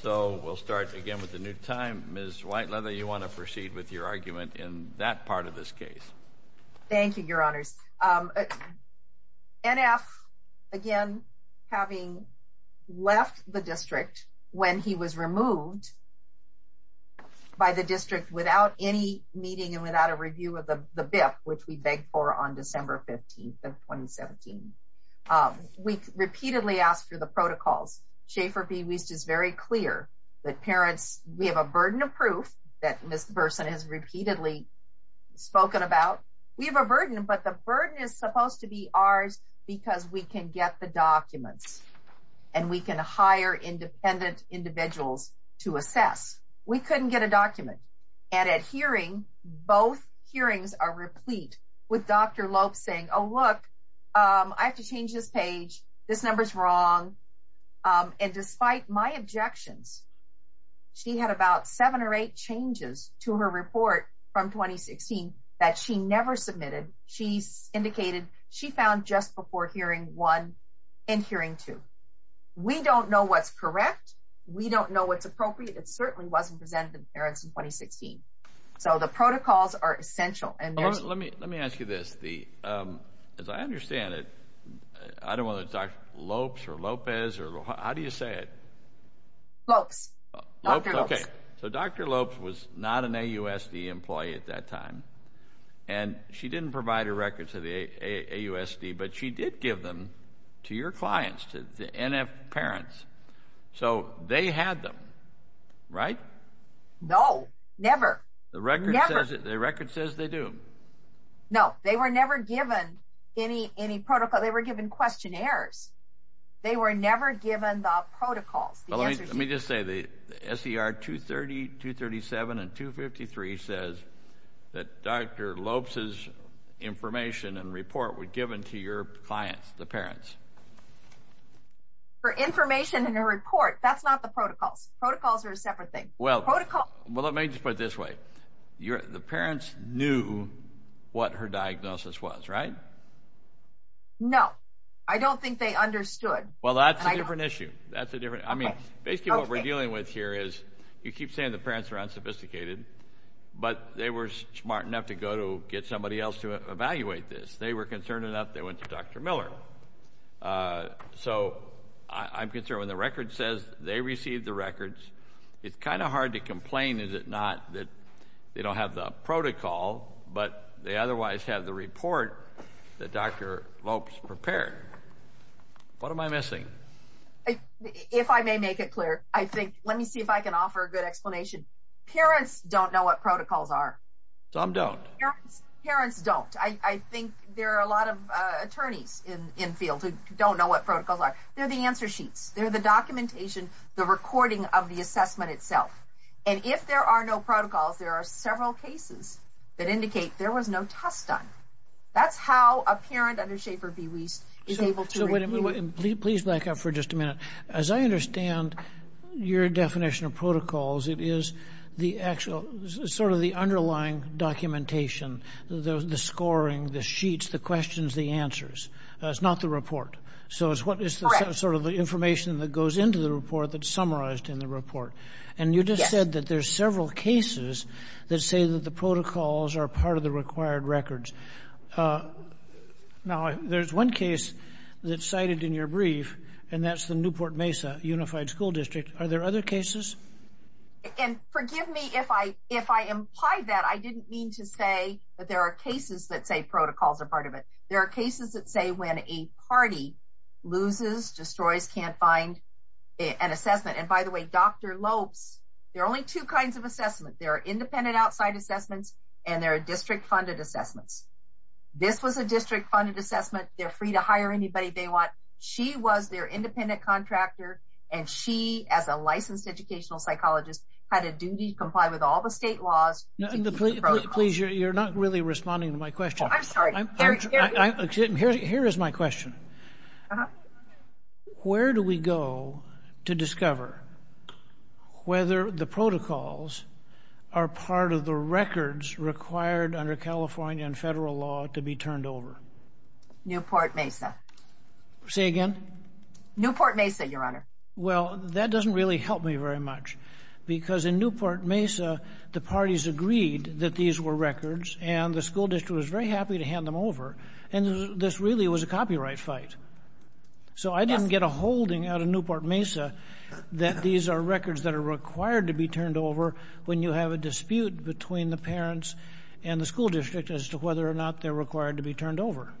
So, we'll start again with the new time. Ms. Whiteleather, you want to proceed with your argument in that part of this case. Thank you, Your Honors. N.F., again, having left the district when he was removed by the district without any meeting and without a review of the BIF, which we begged for on December 15th of 2017, we repeatedly asked for the protocols. Schaefer B. Wiest is very clear that parents, we have a burden of proof that Ms. Burson has repeatedly spoken about. We have a burden, but the burden is supposed to be ours because we can get the documents and we can hire independent individuals to assess. We couldn't get a document, and at hearing, both hearings are replete with Dr. Lope saying, oh, look, I have to change this page. This number's wrong. And despite my objections, she had about seven or eight changes to her report from 2016 that she never submitted. She indicated she found just before hearing one and hearing two. We don't know what's correct. We don't know what's appropriate. It certainly wasn't presented to the parents in 2016. So the protocols are essential. Let me ask you this. As I understand it, I don't know whether it's Dr. Lopes or Lopez or how do you say it? Lopes. Dr. Lopes. Okay, so Dr. Lopes was not an AUSD employee at that time, and she didn't provide a record to the AUSD, but she did give them to your clients, to the NF parents. So they had them, right? No, never. Never. The record says they do. No, they were never given any protocol. They were given questionnaires. They were never given the protocols. Let me just say the SER 230, 237, and 253 says that Dr. Lopes' information and report were given to your clients, the parents. For information and a report, that's not the protocols. Protocols are a separate thing. Well, let me just put it this way. The parents knew what her diagnosis was, right? No. I don't think they understood. Well, that's a different issue. I mean, basically what we're dealing with here is you keep saying the parents are unsophisticated, but they were smart enough to go to get somebody else to evaluate this. They were concerned enough they went to Dr. Miller. So I'm concerned when the record says they received the records, it's kind of hard to complain, is it not, that they don't have the protocol, but they otherwise have the report that Dr. Lopes prepared. What am I missing? If I may make it clear, let me see if I can offer a good explanation. Parents don't know what protocols are. Some don't. Parents don't. I think there are a lot of attorneys in the field who don't know what protocols are. They're the answer sheets. They're the documentation, the recording of the assessment itself. And if there are no protocols, there are several cases that indicate there was no test done. That's how a parent under Schaefer B. Wiest is able to review. So please back up for just a minute. As I understand your definition of protocols, it is the actual sort of the underlying documentation, the scoring, the sheets, the questions, the answers. It's not the report. So it's sort of the information that goes into the report that's summarized in the report. And you just said that there's several cases that say that the protocols are part of the required records. Now, there's one case that's cited in your brief, and that's the Newport Mesa Unified School District. Are there other cases? And forgive me if I implied that. I didn't mean to say that there are cases that say protocols are part of it. There are cases that say when a party loses, destroys, can't find an assessment. And by the way, Dr. Lopes, there are only two kinds of assessments. There are independent outside assessments, and there are district-funded assessments. This was a district-funded assessment. They're free to hire anybody they want. She was their independent contractor, and she, as a licensed educational psychologist, had a duty to comply with all the state laws to keep the protocols. Please, you're not really responding to my question. I'm sorry. Here is my question. Where do we go to discover whether the protocols are part of the records required under California and federal law to be turned over? Newport Mesa. Say again? Newport Mesa, Your Honor. Well, that doesn't really help me very much, because in Newport Mesa, the parties agreed that these were records, and the school district was very happy to hand them over, and this really was a copyright fight. So I didn't get a holding out of Newport Mesa that these are records that are required to be turned over when you have a dispute between the parents and the school district as to whether or not they're required to be turned over.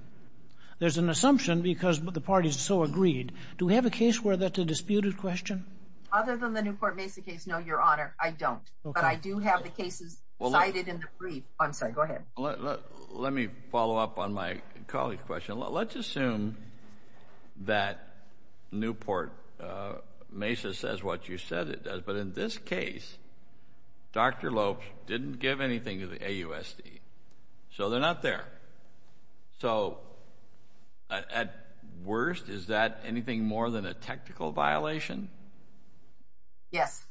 There's an assumption because the parties so agreed. Do we have a case where that's a disputed question? Other than the Newport Mesa case, no, Your Honor, I don't. But I do have the cases cited in the brief. I'm sorry. Go ahead. Let me follow up on my colleague's question. Let's assume that Newport Mesa says what you said it does, but in this case, Dr. Lopes didn't give anything to the AUSD, so they're not there. So at worst, is that anything more than a technical violation? Yes.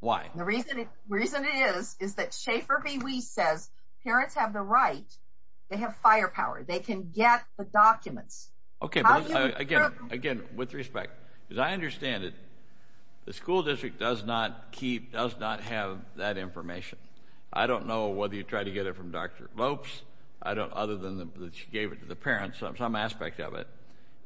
Why? The reason is that Schaefer B. Weiss says parents have the right. They have firepower. They can get the documents. Okay. Again, with respect, as I understand it, the school district does not have that information. I don't know whether you tried to get it from Dr. Lopes other than that she gave it to the parents, some aspect of it.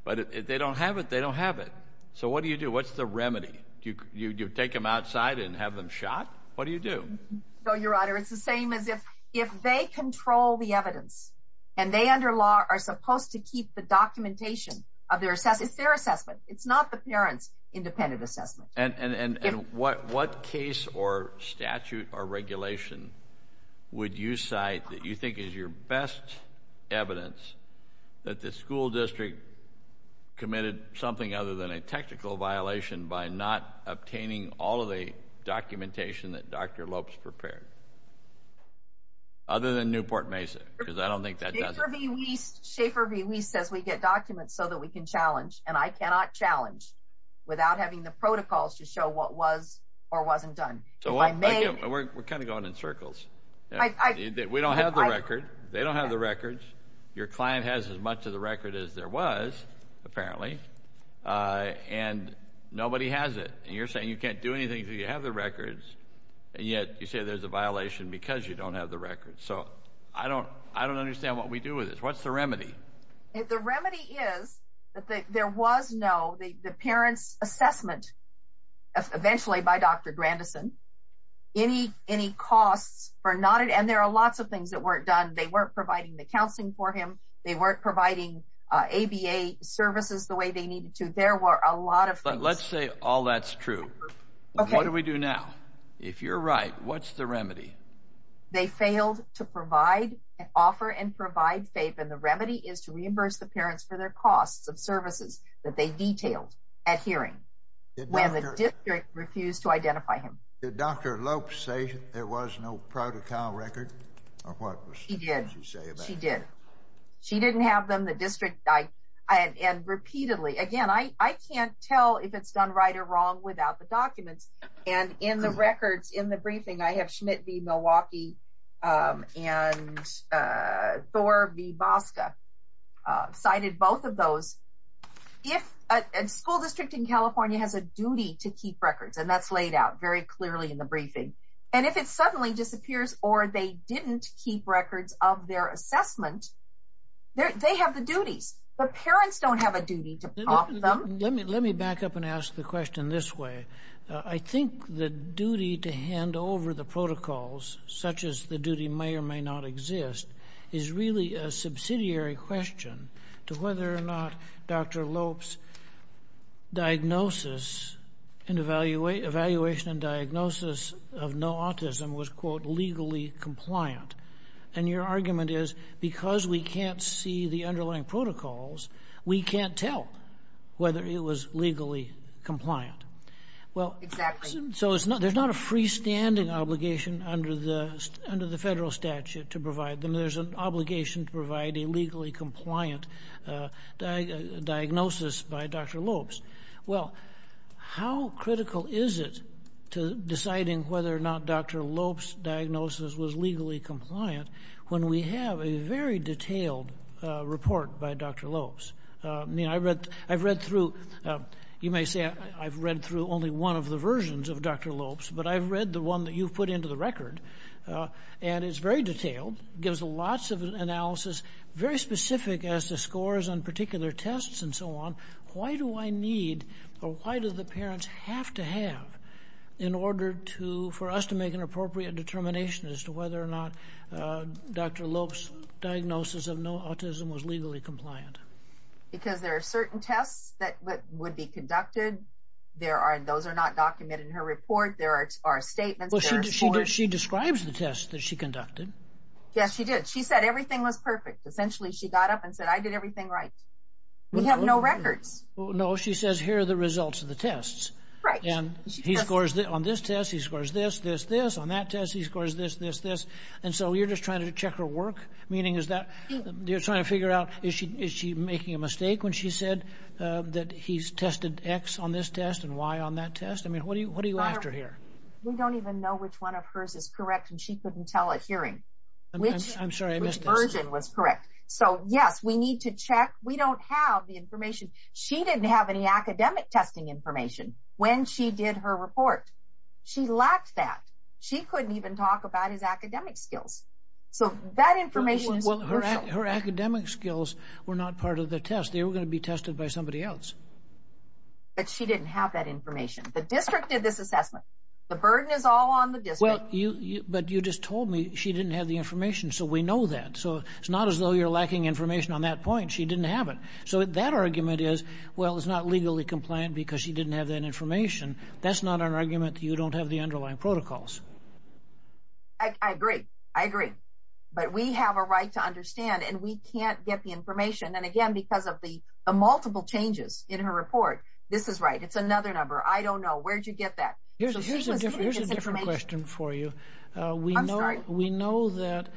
But if they don't have it, they don't have it. So what do you do? What's the remedy? Do you take them outside and have them shot? What do you do? No, Your Honor, it's the same as if they control the evidence, and they under law are supposed to keep the documentation of their assessment. It's their assessment. It's not the parents' independent assessment. And what case or statute or regulation would you cite that you think is your best evidence that the school district committed something other than a technical violation by not obtaining all of the documentation that Dr. Lopes prepared other than Newport Mesa? Because I don't think that does it. Schaefer B. Weiss says we get documents so that we can challenge, and I cannot challenge without having the protocols to show what was or wasn't done. We're kind of going in circles. They don't have the records. Your client has as much of the record as there was, apparently, and nobody has it. And you're saying you can't do anything until you have the records, and yet you say there's a violation because you don't have the records. So I don't understand what we do with this. What's the remedy? The remedy is that there was no, the parents' assessment, eventually by Dr. Grandison, any costs for not at all, and there are lots of things that weren't done. They weren't providing the counseling for him. They weren't providing ABA services the way they needed to. There were a lot of things. But let's say all that's true. What do we do now? If you're right, what's the remedy? They failed to provide, offer, and provide FAPE, and the remedy is to reimburse the parents for their costs of services that they detailed at hearing when the district refused to identify him. Did Dr. Lopes say there was no protocol record? She did. She did. She didn't have them. The district, and repeatedly, again, I can't tell if it's done right or wrong without the documents. And in the records, in the briefing, I have Schmidt v. Milwaukee and Thor v. Bosca cited both of those. A school district in California has a duty to keep records, and that's laid out very clearly in the briefing. And if it suddenly disappears or they didn't keep records of their assessment, they have the duties. The parents don't have a duty to prompt them. Let me back up and ask the question this way. I think the duty to hand over the protocols, such as the duty may or may not exist, is really a subsidiary question to whether or not Dr. Lopes' diagnosis and evaluation and diagnosis of no autism was, quote, legally compliant. And your argument is because we can't see the underlying protocols, we can't tell whether it was legally compliant. Exactly. So there's not a freestanding obligation under the federal statute to provide them. There's an obligation to provide a legally compliant diagnosis by Dr. Lopes. Well, how critical is it to deciding whether or not Dr. Lopes' diagnosis was legally compliant when we have a very detailed report by Dr. Lopes? I've read through, you may say I've read through only one of the versions of Dr. Lopes, but I've read the one that you've put into the record, and it's very detailed, gives lots of analysis, very specific as to scores on particular tests and so on. Why do I need or why do the parents have to have in order for us to make an appropriate determination as to whether or not Dr. Lopes' diagnosis of no autism was legally compliant? Because there are certain tests that would be conducted. Those are not documented in her report. There are statements. Well, she describes the tests that she conducted. Yes, she did. She said everything was perfect. Essentially, she got up and said, I did everything right. We have no records. No, she says here are the results of the tests. Right. And he scores on this test, he scores this, this, this. On that test, he scores this, this, this. And so you're just trying to check her work, meaning is that you're trying to figure out is she making a mistake when she said that he's tested X on this test and Y on that test? I mean, what are you after here? We don't even know which one of hers is correct, and she couldn't tell at hearing. I'm sorry, I missed this. Which version was correct. So, yes, we need to check. We don't have the information. She didn't have any academic testing information when she did her report. She lacked that. She couldn't even talk about his academic skills. So that information is crucial. Well, her academic skills were not part of the test. They were going to be tested by somebody else. But she didn't have that information. The district did this assessment. The burden is all on the district. But you just told me she didn't have the information, so we know that. So it's not as though you're lacking information on that point. She didn't have it. So that argument is, well, it's not legally compliant because she didn't have that information. That's not an argument that you don't have the underlying protocols. I agree. I agree. But we have a right to understand, and we can't get the information. And, again, because of the multiple changes in her report. This is right. It's another number. I don't know. Where'd you get that? Here's a different question for you. I'm sorry. We know that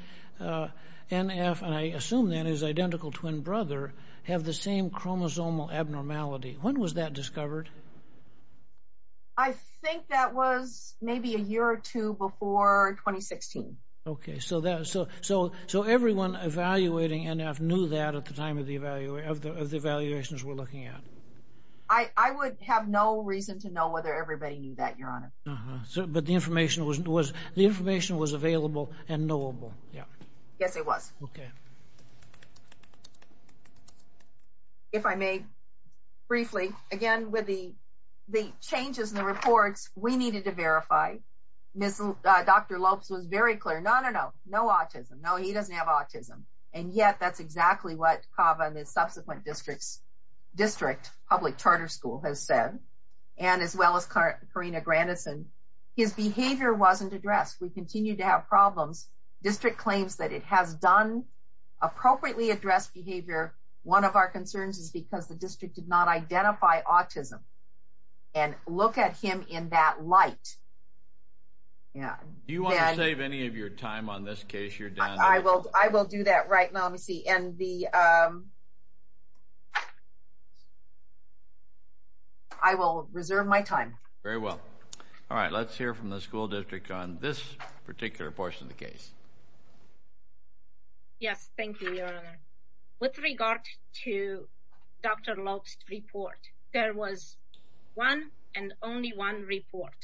NF, and I assume that is identical twin brother, have the same chromosomal abnormality. When was that discovered? I think that was maybe a year or two before 2016. Okay. So everyone evaluating NF knew that at the time of the evaluations we're looking at. I would have no reason to know whether everybody knew that, Your Honor. But the information was available and knowable. Yes, it was. Okay. If I may, briefly, again, with the changes in the reports, we needed to verify. Dr. Lopes was very clear. No, no, no. No autism. No, he doesn't have autism. And yet, that's exactly what CAVA and the subsequent district public charter school has said. And as well as Karina Grandison. His behavior wasn't addressed. We continue to have problems. District claims that it has done appropriately address behavior. One of our concerns is because the district did not identify autism. And look at him in that light. Do you want to save any of your time on this case, Your Honor? I will do that right now. Let me see. And I will reserve my time. Very well. All right. Let's hear from the school district on this particular portion of the case. Yes, thank you, Your Honor. With regard to Dr. Lopes' report, there was one and only one report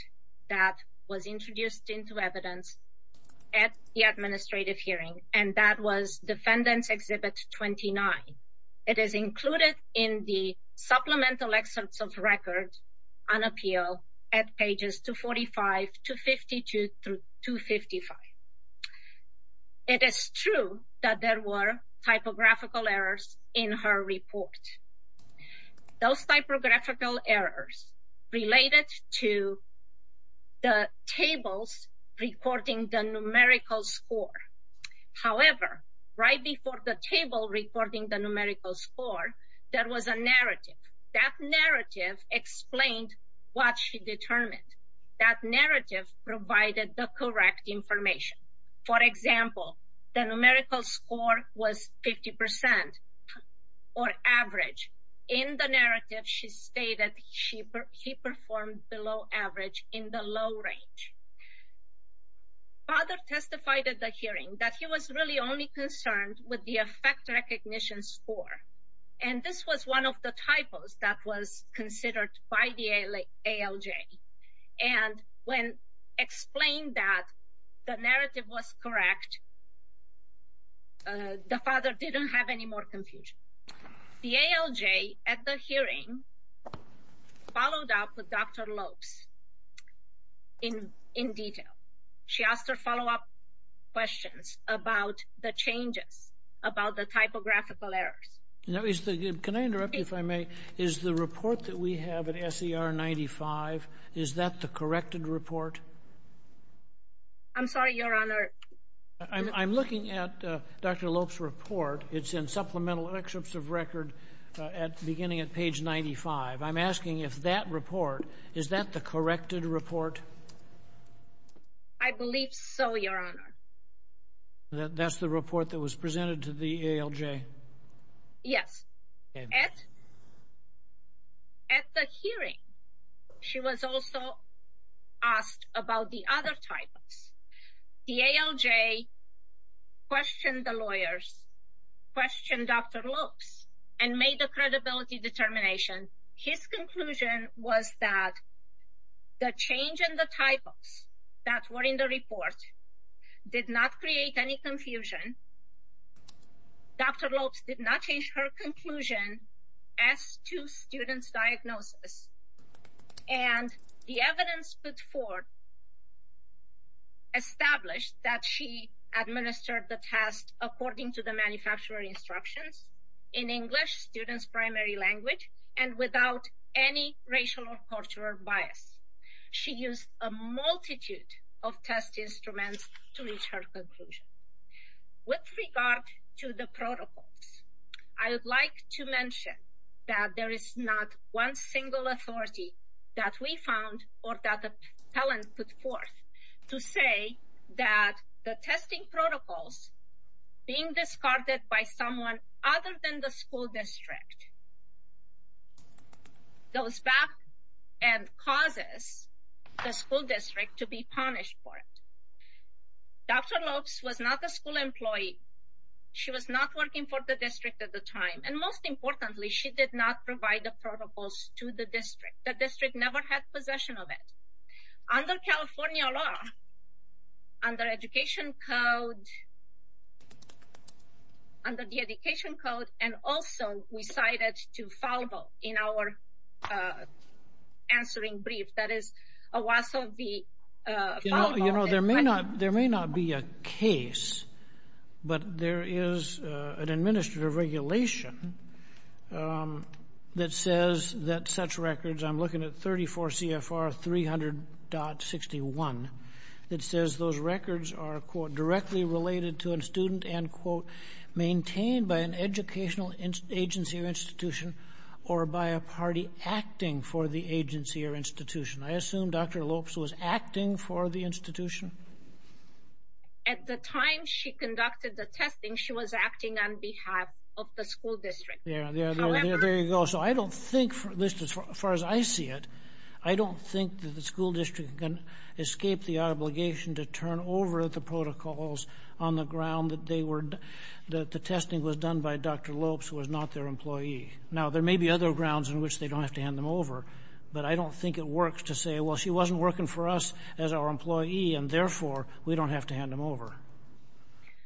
that was introduced into evidence at the administrative hearing. And that was Defendant's Exhibit 29. It is included in the Supplemental Excerpts of Records on Appeal at pages 245-252-255. It is true that there were typographical errors in her report. Those typographical errors related to the tables recording the numerical score. However, right before the table recording the numerical score, there was a narrative. That narrative explained what she determined. That narrative provided the correct information. For example, the numerical score was 50% or average. In the narrative, she stated she performed below average in the low range. Father testified at the hearing that he was really only concerned with the effect recognition score. And this was one of the typos that was considered by the ALJ. And when explained that the narrative was correct, the father didn't have any more confusion. The ALJ at the hearing followed up with Dr. Lopes in detail. She asked her follow-up questions about the changes, about the typographical errors. Can I interrupt, if I may? Is the report that we have at SER 95, is that the corrected report? I'm sorry, Your Honor. I'm looking at Dr. Lopes' report. It's in Supplemental Excerpts of Records beginning at page 95. I'm asking if that report, is that the corrected report? I believe so, Your Honor. That's the report that was presented to the ALJ? Yes. At the hearing, she was also asked about the other typos. The ALJ questioned the lawyers, questioned Dr. Lopes, and made a credibility determination. His conclusion was that the change in the typos that were in the report did not create any confusion. Dr. Lopes did not change her conclusion as to student's diagnosis. And the evidence put forward established that she administered the test according to the manufacturer instructions. In English, student's primary language, and without any racial or cultural bias. She used a multitude of test instruments to reach her conclusion. With regard to the protocols, I would like to mention that there is not one single authority that we found, or that a talent put forth, to say that the testing protocols being discarded by someone other than the school district, goes back and causes the school district to be punished for it. Dr. Lopes was not a school employee. She was not working for the district at the time. And most importantly, she did not provide the protocols to the district. The district never had possession of it. Under California law, under education code, under the education code, and also we cited to foul vote in our answering brief. That is a loss of the foul vote. You know, there may not be a case, but there is an administrative regulation that says that such records, I'm looking at 34 CFR 300.61, that says those records are, quote, directly related to a student, end quote, maintained by an educational agency or institution, or by a party acting for the agency or institution. I assume Dr. Lopes was acting for the institution? At the time she conducted the testing, she was acting on behalf of the school district. There you go. So I don't think, at least as far as I see it, I don't think that the school district can escape the obligation to turn over the protocols on the ground that they were, that the testing was done by Dr. Lopes, who was not their employee. Now, there may be other grounds on which they don't have to hand them over, but I don't think it works to say, well, she wasn't working for us as our employee, and therefore we don't have to hand them over.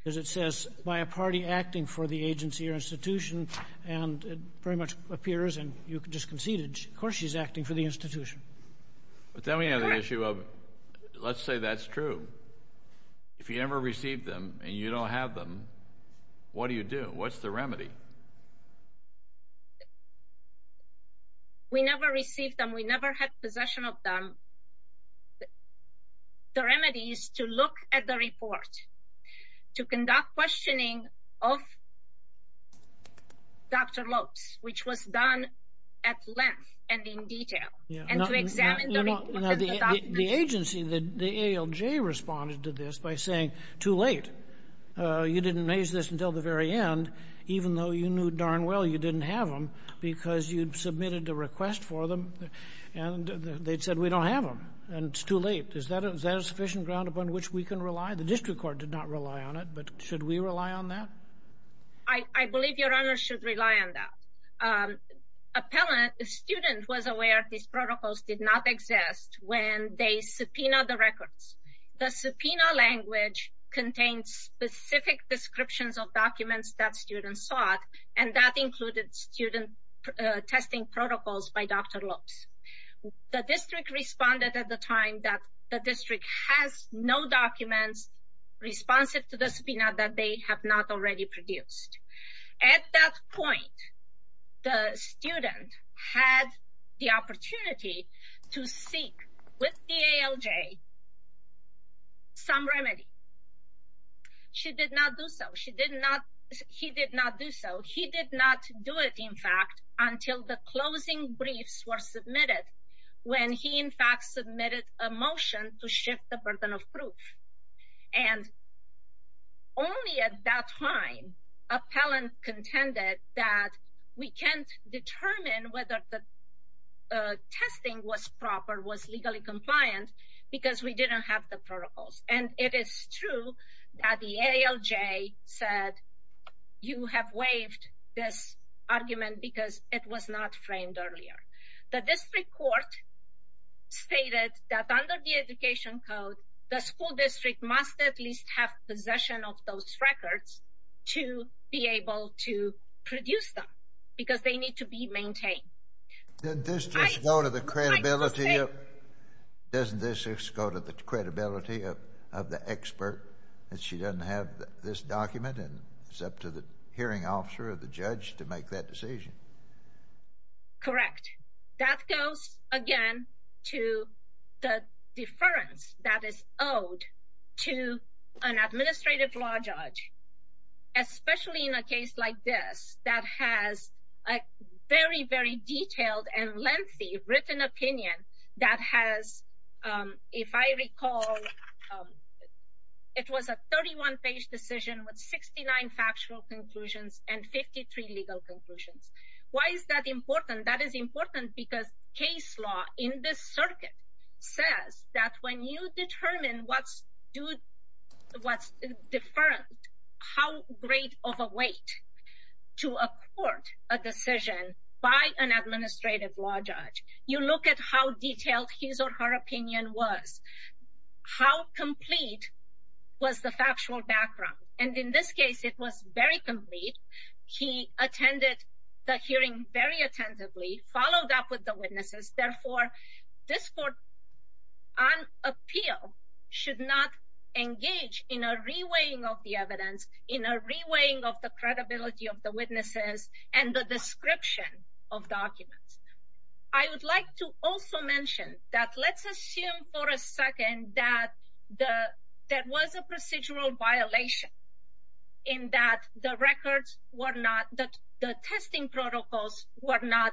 As it says, by a party acting for the agency or institution, and it very much appears, and you just conceded, of course she's acting for the institution. But then we have the issue of, let's say that's true. If you never received them and you don't have them, what do you do? What's the remedy? We never received them. We never had possession of them. The remedy is to look at the report, to conduct questioning of Dr. Lopes, which was done at length and in detail, and to examine the report. The agency, the ALJ, responded to this by saying, too late. You didn't raise this until the very end, even though you knew darn well you didn't have them, because you submitted a request for them, and they said we don't have them, and it's too late. Is that a sufficient ground upon which we can rely? The district court did not rely on it, but should we rely on that? I believe Your Honor should rely on that. A student was aware these protocols did not exist when they subpoenaed the records. The subpoena language contained specific descriptions of documents that students sought, and that included student testing protocols by Dr. Lopes. The district responded at the time that the district has no documents responsive to the subpoena that they have not already produced. At that point, the student had the opportunity to seek, with the ALJ, some remedy. She did not do so. He did not do so. He did not do it, in fact, until the closing briefs were submitted, when he, in fact, submitted a motion to shift the burden of proof. And only at that time appellant contended that we can't determine whether the testing was proper, was legally compliant, because we didn't have the protocols. And it is true that the ALJ said you have waived this argument because it was not framed earlier. The district court stated that under the education code, the school district must at least have possession of those records to be able to produce them, because they need to be maintained. Did this just go to the credibility of the expert that she doesn't have this document and it's up to the hearing officer or the judge to make that decision? Correct. That goes, again, to the deference that is owed to an administrative law judge, especially in a case like this that has a very, very detailed and lengthy written opinion that has, if I recall, it was a 31-page decision with 69 factual conclusions and 53 legal conclusions. Why is that important? That is important because case law in this circuit says that when you determine what's deferred, how great of a weight to a court a decision by an administrative law judge. You look at how detailed his or her opinion was, how complete was the factual background. And in this case, it was very complete. He attended the hearing very attentively, followed up with the witnesses. Therefore, this court on appeal should not engage in a reweighing of the evidence, in a reweighing of the credibility of the witnesses and the description of documents. I would like to also mention that let's assume for a second that there was a procedural violation in that the records were not, the testing protocols were not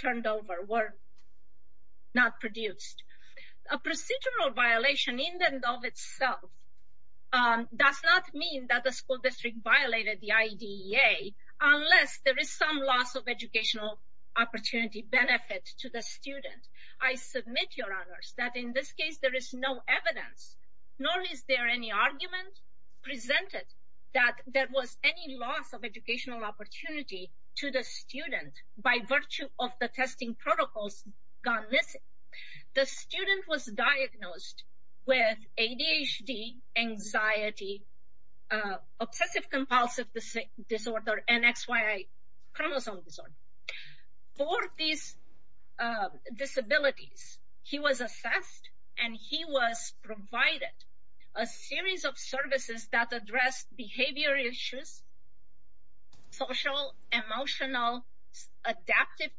turned over, were not produced. A procedural violation in and of itself does not mean that the school district violated the IDEA unless there is some loss of educational opportunity benefit to the student. I submit, Your Honors, that in this case, there is no evidence, nor is there any argument presented that there was any loss of educational opportunity to the student by virtue of the testing protocols gone missing. The student was diagnosed with ADHD, anxiety, obsessive compulsive disorder, and XY chromosome disorder. For these disabilities, he was assessed and he was provided a series of services that addressed behavior issues, social, emotional, adaptive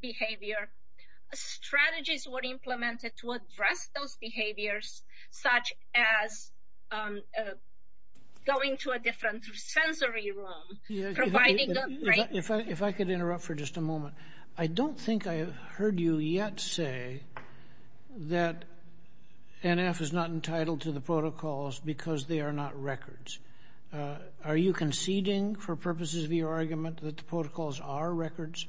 behavior. Strategies were implemented to address those behaviors, such as going to a different sensory room. If I could interrupt for just a moment. I don't think I heard you yet say that NF is not entitled to the protocols because they are not records. Are you conceding, for purposes of your argument, that the protocols are records?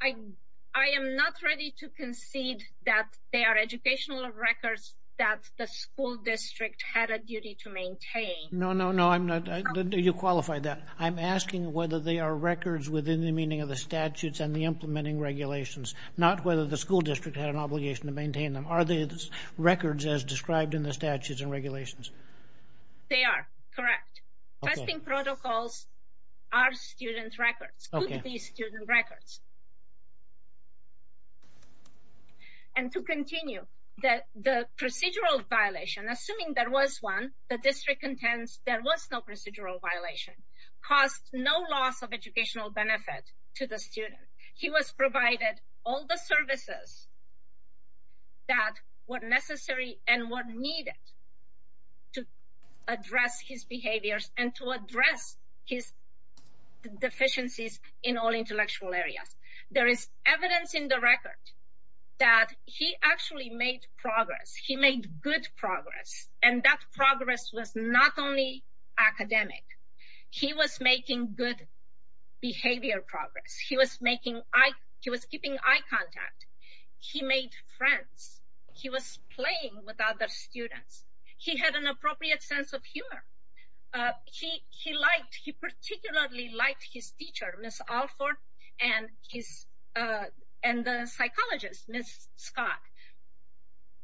I am not ready to concede that they are educational records that the school district had a duty to maintain. No, no, no, I'm not. You qualify that. I'm asking whether they are records within the meaning of the statutes and the implementing regulations, not whether the school district had an obligation to maintain them. Are they records as described in the statutes and regulations? They are, correct. Testing protocols are student records, could be student records. And to continue, the procedural violation, assuming there was one, the district intends there was no procedural violation, caused no loss of educational benefit to the student. He was provided all the services that were necessary and were needed to address his behaviors and to address his deficiencies in all intellectual areas. There is evidence in the record that he actually made progress. He made good progress, and that progress was not only academic. He was making good behavior progress. He was keeping eye contact. He made friends. He was playing with other students. He had an appropriate sense of humor. He particularly liked his teacher, Ms. Alford, and the psychologist, Ms. Scott.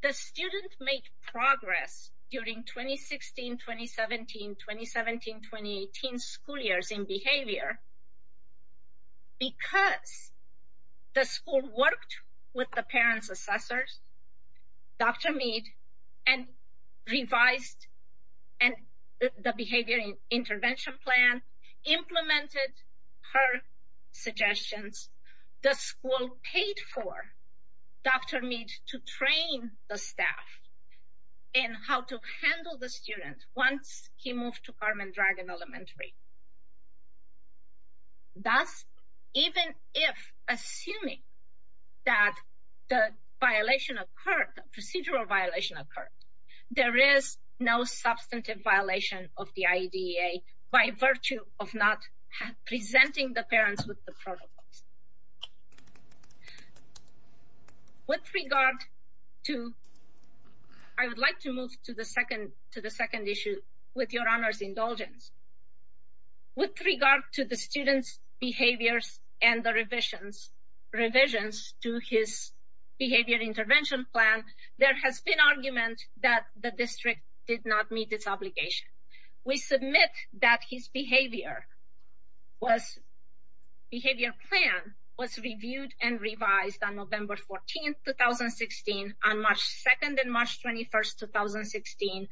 The student made progress during 2016, 2017, 2017, 2018 school years in behavior because the school worked with the parents' assessors, Dr. Mead, and revised the behavior intervention plan, implemented her suggestions. The school paid for Dr. Mead to train the staff in how to handle the student once he moved to Carmen Dragon Elementary. Thus, even if, assuming that the violation occurred, the procedural violation occurred, there is no substantive violation of the IEDEA by virtue of not presenting the parents with the protocols. I would like to move to the second issue with Your Honor's indulgence. With regard to the student's behaviors and the revisions to his behavior intervention plan, there has been argument that the district did not meet its obligation. We submit that his behavior plan was reviewed and revised on November 14th, 2016, on March 2nd and March 21st, 2016,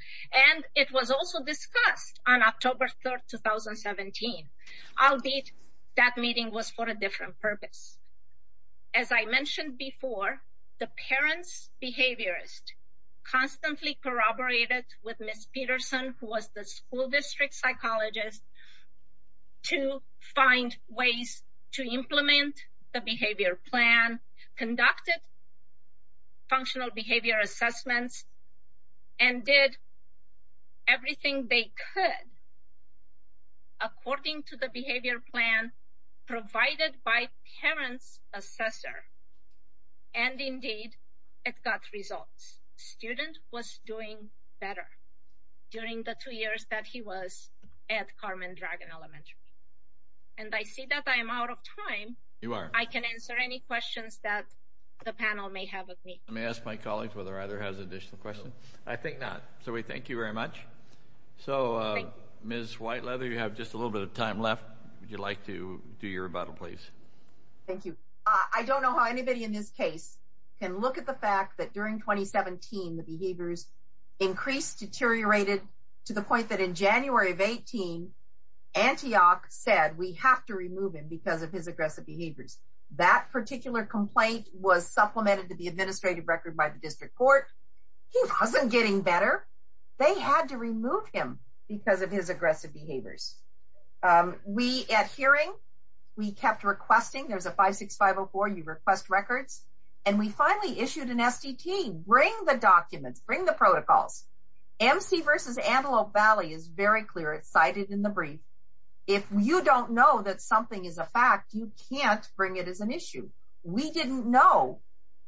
and it was also discussed on October 3rd, 2017, albeit that meeting was for a different purpose. As I mentioned before, the parents' behaviorist constantly corroborated with Ms. Peterson, who was the school district psychologist, to find ways to implement the behavior plan, conducted functional behavior assessments, and did everything they could according to the behavior plan provided by parents' assessor, and indeed, it got results. Student was doing better during the two years that he was at Carmen Dragon Elementary. And I see that I am out of time. I can answer any questions that the panel may have of me. Let me ask my colleagues whether either has additional questions. I think not. So we thank you very much. So, Ms. Whiteleather, you have just a little bit of time left. Would you like to do your rebuttal, please? Thank you. I don't know how anybody in this case can look at the fact that during 2017, the behaviors increased, deteriorated to the point that in January of 18, Antioch said we have to remove him because of his aggressive behaviors. That particular complaint was supplemented to the administrative record by the district court. He wasn't getting better. They had to remove him because of his aggressive behaviors. At hearing, we kept requesting. There's a 56504. You request records. And we finally issued an SDT. Bring the documents. Bring the protocols. MC versus Antelope Valley is very clear. It's cited in the brief. If you don't know that something is a fact, you can't bring it as an issue. We didn't know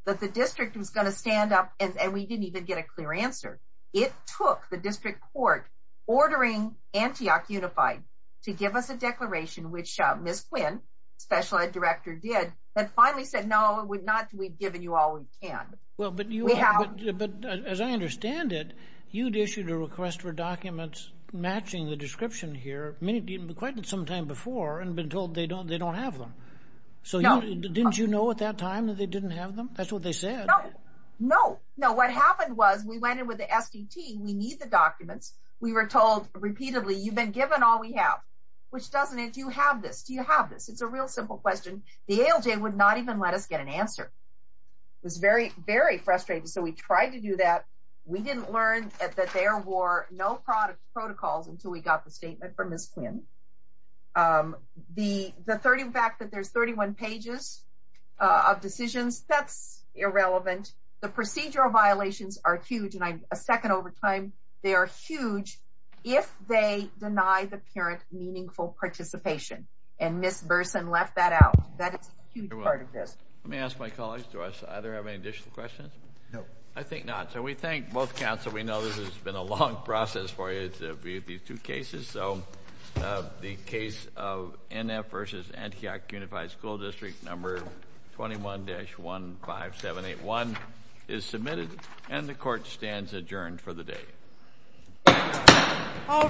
that the district was going to stand up, and we didn't even get a clear answer. It took the district court ordering Antioch Unified to give us a declaration, which Ms. Quinn, Special Ed Director, did, and finally said, no, we've given you all we can. Well, but as I understand it, you'd issued a request for documents matching the description here quite some time before and been told they don't have them. So didn't you know at that time that they didn't have them? That's what they said. No. No, what happened was we went in with the SDT. We need the documents. We were told repeatedly, you've been given all we have, which doesn't it? Do you have this? Do you have this? It's a real simple question. The ALJ would not even let us get an answer. It was very, very frustrating. So we tried to do that. We didn't learn that there were no protocols until we got the statement from Ms. Quinn. The fact that there's 31 pages of decisions, that's irrelevant. The procedural violations are huge. And a second overtime, they are huge if they deny the parent meaningful participation. And Ms. Burson left that out. That is a huge part of this. Let me ask my colleagues, do either of us have any additional questions? No. I think not. So we thank both Council. We know this has been a long process for you to view these two cases. So the case of NF versus Antioch Unified School District number 21-15781 is submitted. And the Court stands adjourned for the day. All rise.